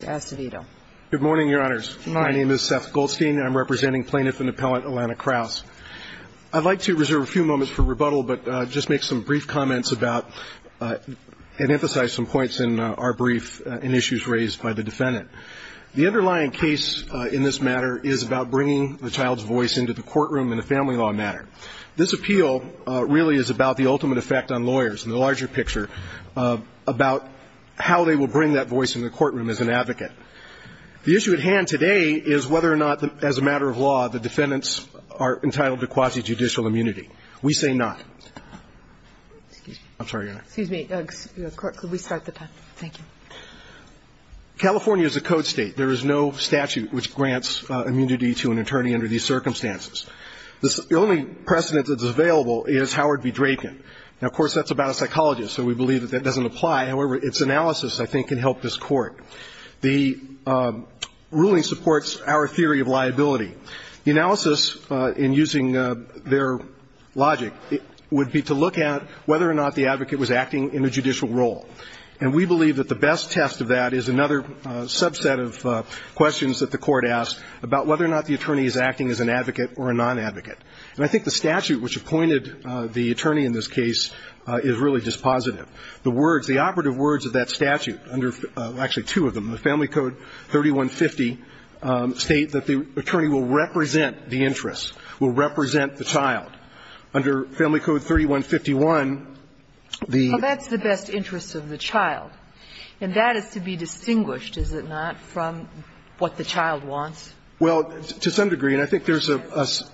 Good morning, Your Honors. My name is Seth Goldstein, and I'm representing Plaintiff and Appellant Alana Krause. I'd like to reserve a few moments for rebuttal but just make some brief comments about and emphasize some points in our brief and issues raised by the Defendant. The underlying case in this matter is about bringing the child's voice into the courtroom in a family law matter. This appeal really is about the ultimate effect on lawyers in the larger picture, about how they will bring that voice in the courtroom as an advocate. The issue at hand today is whether or not, as a matter of law, the Defendants are entitled to quasi-judicial immunity. We say not. I'm sorry, Your Honor. Excuse me. Could we start the time? Thank you. California is a code state. There is no statute which grants immunity to an attorney under these circumstances. The only precedent that's available is Howard v. Draken. Now, of course, that's about a psychologist, so we believe that that doesn't apply. However, its analysis, I think, can help this Court. The ruling supports our theory of liability. The analysis, in using their logic, would be to look at whether or not the advocate was acting in a judicial role. And we believe that the best test of that is another subset of questions that the Court asked about whether or not the attorney is acting as an advocate or a non-advocate. And I think the statute which appointed the attorney in this case is really dispositive. The words, the operative words of that statute, under actually two of them, the Family Code 3150, state that the attorney will represent the interest, will represent the child. Under Family Code 3151, the ---- Well, that's the best interest of the child. And that is to be distinguished, is it not, from what the child wants? Well, to some degree. And I think there's a ----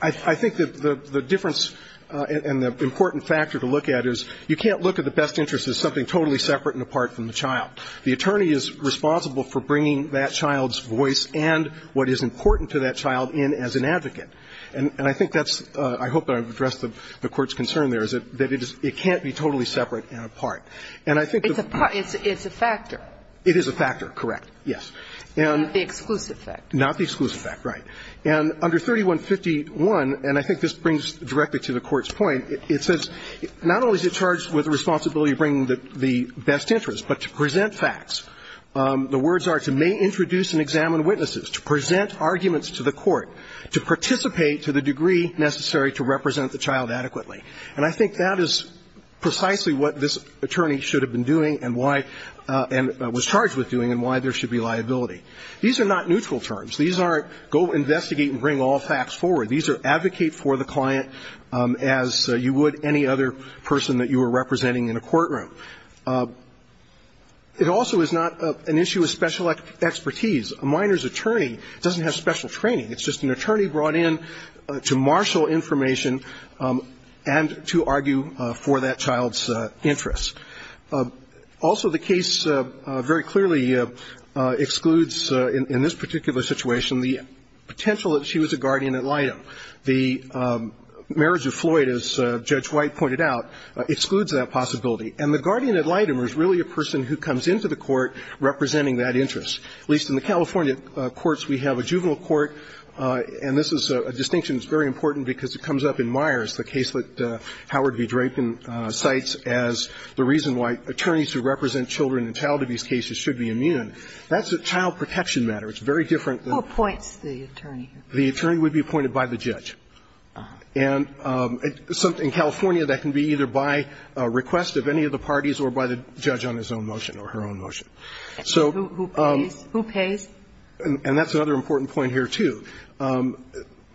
I think that the difference and the important factor to look at is you can't look at the best interest as something totally separate and apart from the child. The attorney is responsible for bringing that child's voice and what is important to that child in as an advocate. And I think that's ---- I hope I've addressed the Court's concern there, is that it can't be totally separate and apart. And I think the ---- It's a factor. It is a factor, correct, yes. And the exclusive factor. Not the exclusive factor, right. And under 3151, and I think this brings directly to the Court's point, it says not only is it charged with the responsibility of bringing the best interest, but to present facts. The words are to may introduce and examine witnesses, to present arguments to the Court, to participate to the degree necessary to represent the child adequately. And I think that is precisely what this attorney should have been doing and why ---- and was charged with doing and why there should be liability. These are not neutral terms. These aren't go investigate and bring all facts forward. These are advocate for the client as you would any other person that you were representing in a courtroom. It also is not an issue of special expertise. A minor's attorney doesn't have special training. It's just an attorney brought in to marshal information and to argue for that child's interest. Also, the case very clearly excludes in this particular situation the potential that she was a guardian ad litem. The marriage of Floyd, as Judge White pointed out, excludes that possibility. And the guardian ad litem is really a person who comes into the court representing that interest. At least in the California courts, we have a juvenile court, and this is a distinction that's very important because it comes up in Myers, the case that Howard V. Drapin cites as the reason why attorneys who represent children in child abuse cases should be immune. That's a child protection matter. It's very different than ---- Who appoints the attorney? The attorney would be appointed by the judge. And in California, that can be either by request of any of the parties or by the judge on his own motion or her own motion. So ---- Who pays? And that's another important point here, too.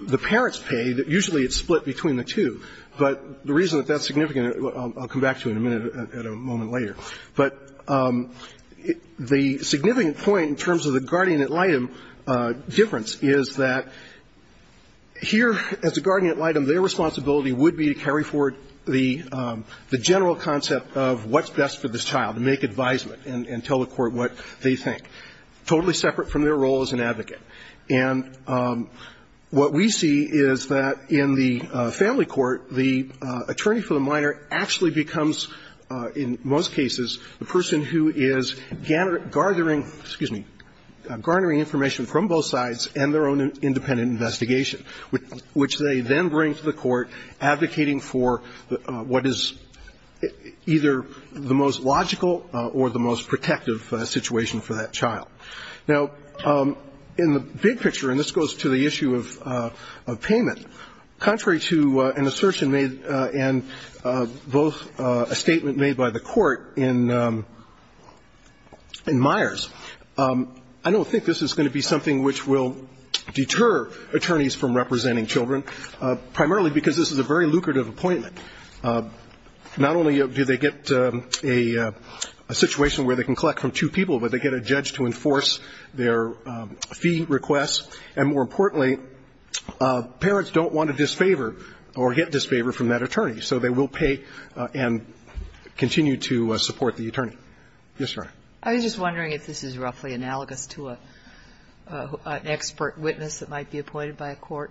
The parents pay. Usually it's split between the two. But the reason that that's significant, I'll come back to in a minute, at a moment later, but the significant point in terms of the guardian ad litem difference is that here, as a guardian ad litem, their responsibility would be to carry forward the general concept of what's best for this child, to make advisement and tell the court what they think, totally separate from their role as an advocate. And what we see is that in the family court, the attorney for the minor actually becomes, in most cases, the person who is garnering, excuse me, garnering information from both sides and their own independent investigation, which they then bring to the court advocating for what is either the most logical or the most protective situation for that child. Now, in the big picture, and this goes to the issue of payment, contrary to an assertion made in both a statement made by the court in Myers, I don't think this is going to be something which will deter attorneys from representing children, primarily because this is a very lucrative appointment. Not only do they get a situation where they can collect from two people, but they also get a judge to enforce their fee requests, and more importantly, parents don't want to disfavor or get disfavor from that attorney. So they will pay and continue to support the attorney. Yes, Your Honor. I was just wondering if this is roughly analogous to an expert witness that might be appointed by a court.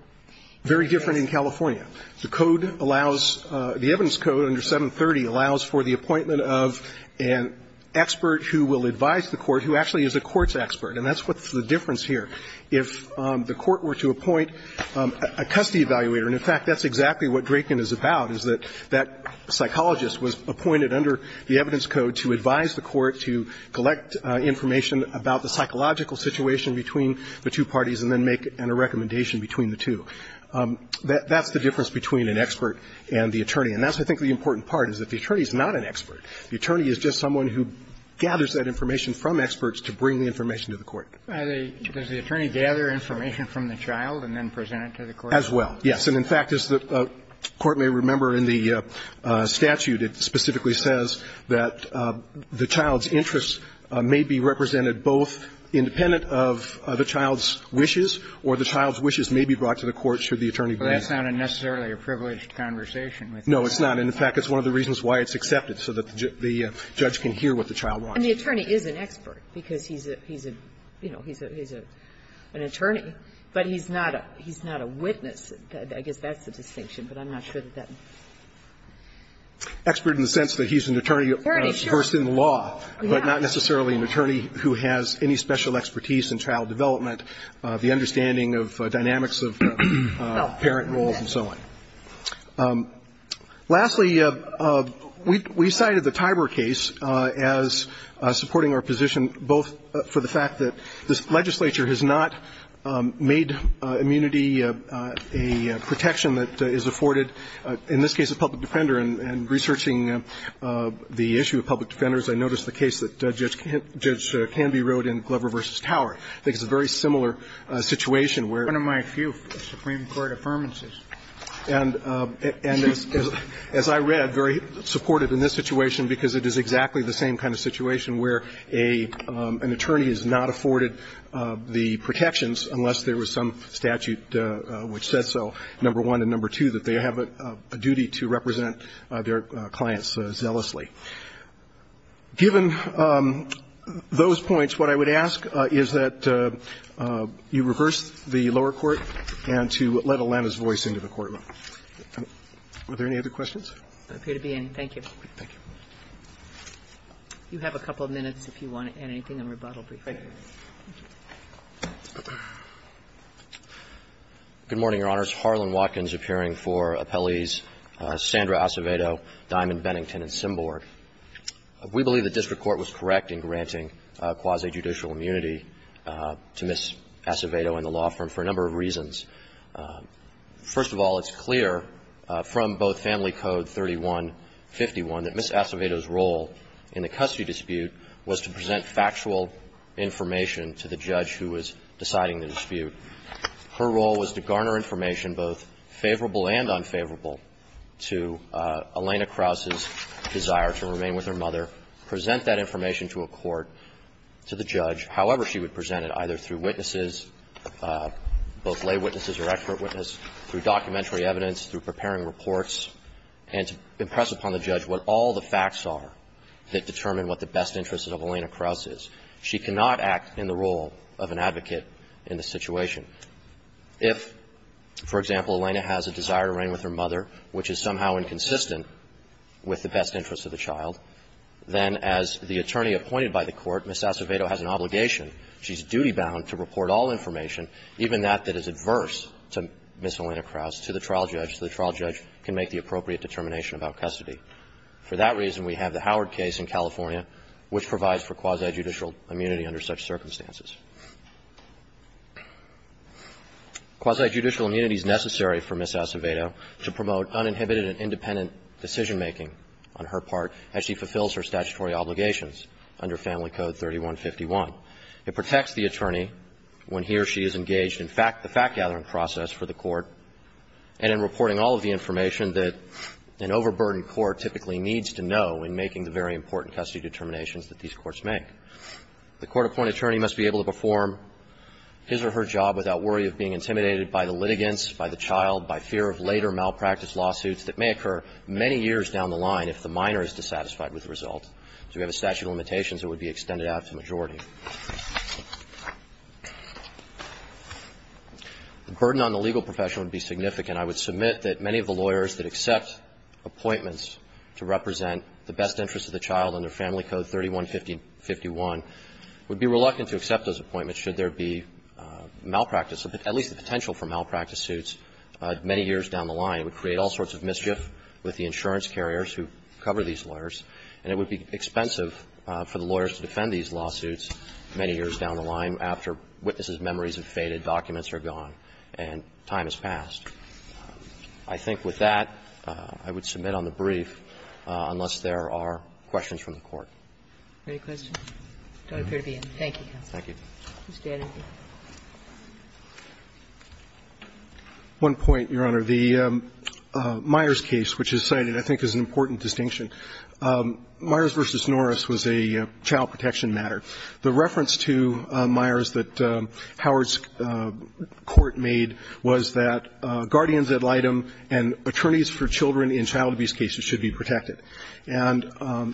Very different in California. The code allows the evidence code under 730 allows for the appointment of an expert who will advise the court, who actually is a court's expert. And that's what's the difference here. If the court were to appoint a custody evaluator, and in fact, that's exactly what Draken is about, is that that psychologist was appointed under the evidence code to advise the court to collect information about the psychological situation between the two parties and then make a recommendation between the two. That's the difference between an expert and the attorney. And that's, I think, the important part, is that the attorney is not an expert. The attorney is just someone who gathers that information from experts to bring the information to the court. Does the attorney gather information from the child and then present it to the court? As well, yes. And, in fact, as the Court may remember in the statute, it specifically says that the child's interests may be represented both independent of the child's wishes or the child's wishes may be brought to the court should the attorney be. But that's not necessarily a privileged conversation. No, it's not. And, in fact, it's one of the reasons why it's accepted, so that the judge can hear what the child wants. And the attorney is an expert, because he's a, you know, he's an attorney. But he's not a witness. I guess that's the distinction, but I'm not sure that that. Expert in the sense that he's an attorney versed in the law, but not necessarily an attorney who has any special expertise in child development, the understanding of dynamics of parent roles and so on. Lastly, we cited the Tiber case as supporting our position both for the fact that this legislature has not made immunity a protection that is afforded, in this case, a public defender. And researching the issue of public defenders, I noticed the case that Judge Canby wrote in Glover v. Tower. I think it's a very similar situation where one of my few Supreme Court affirmances is that there is a public defender in this case. And, as I read, very supportive in this situation, because it is exactly the same kind of situation where an attorney has not afforded the protections unless there was some statute which said so, number one, and number two, that they have a duty to represent their clients zealously. Given those points, what I would ask is that you reverse the lower court and to let Atlanta's voice into the courtroom. Are there any other questions? I appear to be any. Thank you. Thank you. You have a couple of minutes if you want to add anything. I'm going to rebuttal briefly. Thank you. Good morning, Your Honors. Harlan Watkins appearing for appellees Sandra Acevedo, Diamond Bennington, and Symborg. We believe the district court was correct in granting quasi-judicial immunity to Ms. Acevedo and the law firm for a number of reasons. First of all, it's clear from both Family Code 3151 that Ms. Acevedo's role in the custody dispute was to present factual information to the judge who was deciding the dispute. Her role was to garner information both favorable and unfavorable to Elena Krause's desire to remain with her mother, present that information to a court, to the judge, however she would present it, either through witnesses, both lay witnesses or expert witnesses, through documentary evidence, through preparing reports, and to impress upon the judge what all the facts are that determine what the best advocate in the situation. If, for example, Elena has a desire to remain with her mother which is somehow inconsistent with the best interests of the child, then as the attorney appointed by the court, Ms. Acevedo has an obligation, she's duty-bound to report all information, even that that is adverse to Ms. Elena Krause, to the trial judge, so the trial judge can make the appropriate determination about custody. For that reason, we have the Howard case in California which provides for quasi-judicial immunity under such circumstances. Quasi-judicial immunity is necessary for Ms. Acevedo to promote uninhibited and independent decision-making on her part as she fulfills her statutory obligations under Family Code 3151. It protects the attorney when he or she is engaged in the fact-gathering process for the court and in reporting all of the information that an overburdened in making the very important custody determinations that these courts make. The court-appointed attorney must be able to perform his or her job without worry of being intimidated by the litigants, by the child, by fear of later malpractice lawsuits that may occur many years down the line if the minor is dissatisfied with the result. If you have a statute of limitations, it would be extended out to the majority. The burden on the legal profession would be significant. And I would submit that many of the lawyers that accept appointments to represent the best interest of the child under Family Code 3151 would be reluctant to accept those appointments should there be malpractice, at least the potential for malpractice suits, many years down the line. It would create all sorts of mischief with the insurance carriers who cover these lawyers, and it would be expensive for the lawyers to defend these lawsuits many years down the line after witnesses' memories have faded, documents are gone, and time has passed. I think with that, I would submit on the brief unless there are questions from the Court. Any questions? I don't appear to be in. Thank you, counsel. Thank you. Mr. Anderson. One point, Your Honor. The Myers case, which is cited, I think is an important distinction. Myers v. Norris was a child protection matter. The reference to Myers that Howard's court made was that guardians ad litem and attorneys for children in child abuse cases should be protected. And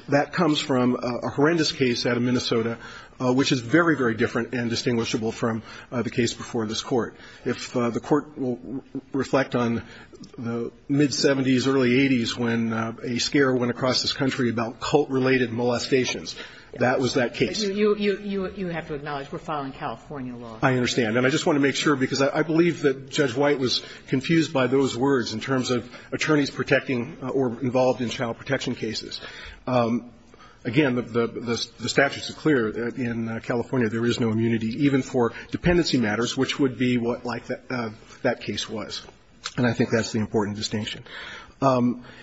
that comes from a horrendous case out of Minnesota, which is very, very different and distinguishable from the case before this Court. If the Court will reflect on the mid-'70s, early-'80s when a scare went across this country about cult-related molestations, that was that case. You have to acknowledge we're following California law. I understand. And I just want to make sure, because I believe that Judge White was confused by those words in terms of attorneys protecting or involved in child protection cases. Again, the statute is clear. In California, there is no immunity, even for dependency matters, which would be what like that case was. And I think that's the important distinction.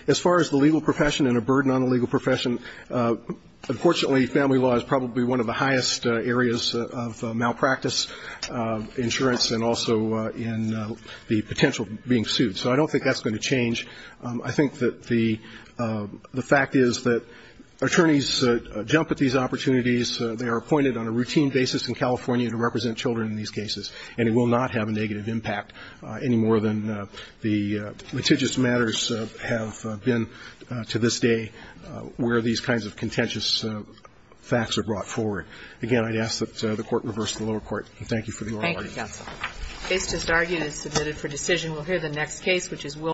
As far as the legal profession and a burden on the legal profession, unfortunately, family law is probably one of the highest areas of malpractice, insurance, and also in the potential of being sued. So I don't think that's going to change. I think that the fact is that attorneys jump at these opportunities. They are appointed on a routine basis in California to represent children in these cases, and it will not have a negative impact any more than the litigious matters have been to this day where these kinds of contentious facts are brought forward. Again, I'd ask that the Court reverse the lower court. Thank you for the oral argument. Thank you, counsel. The case just argued is submitted for decision. We'll hear the next case, which is Wilk.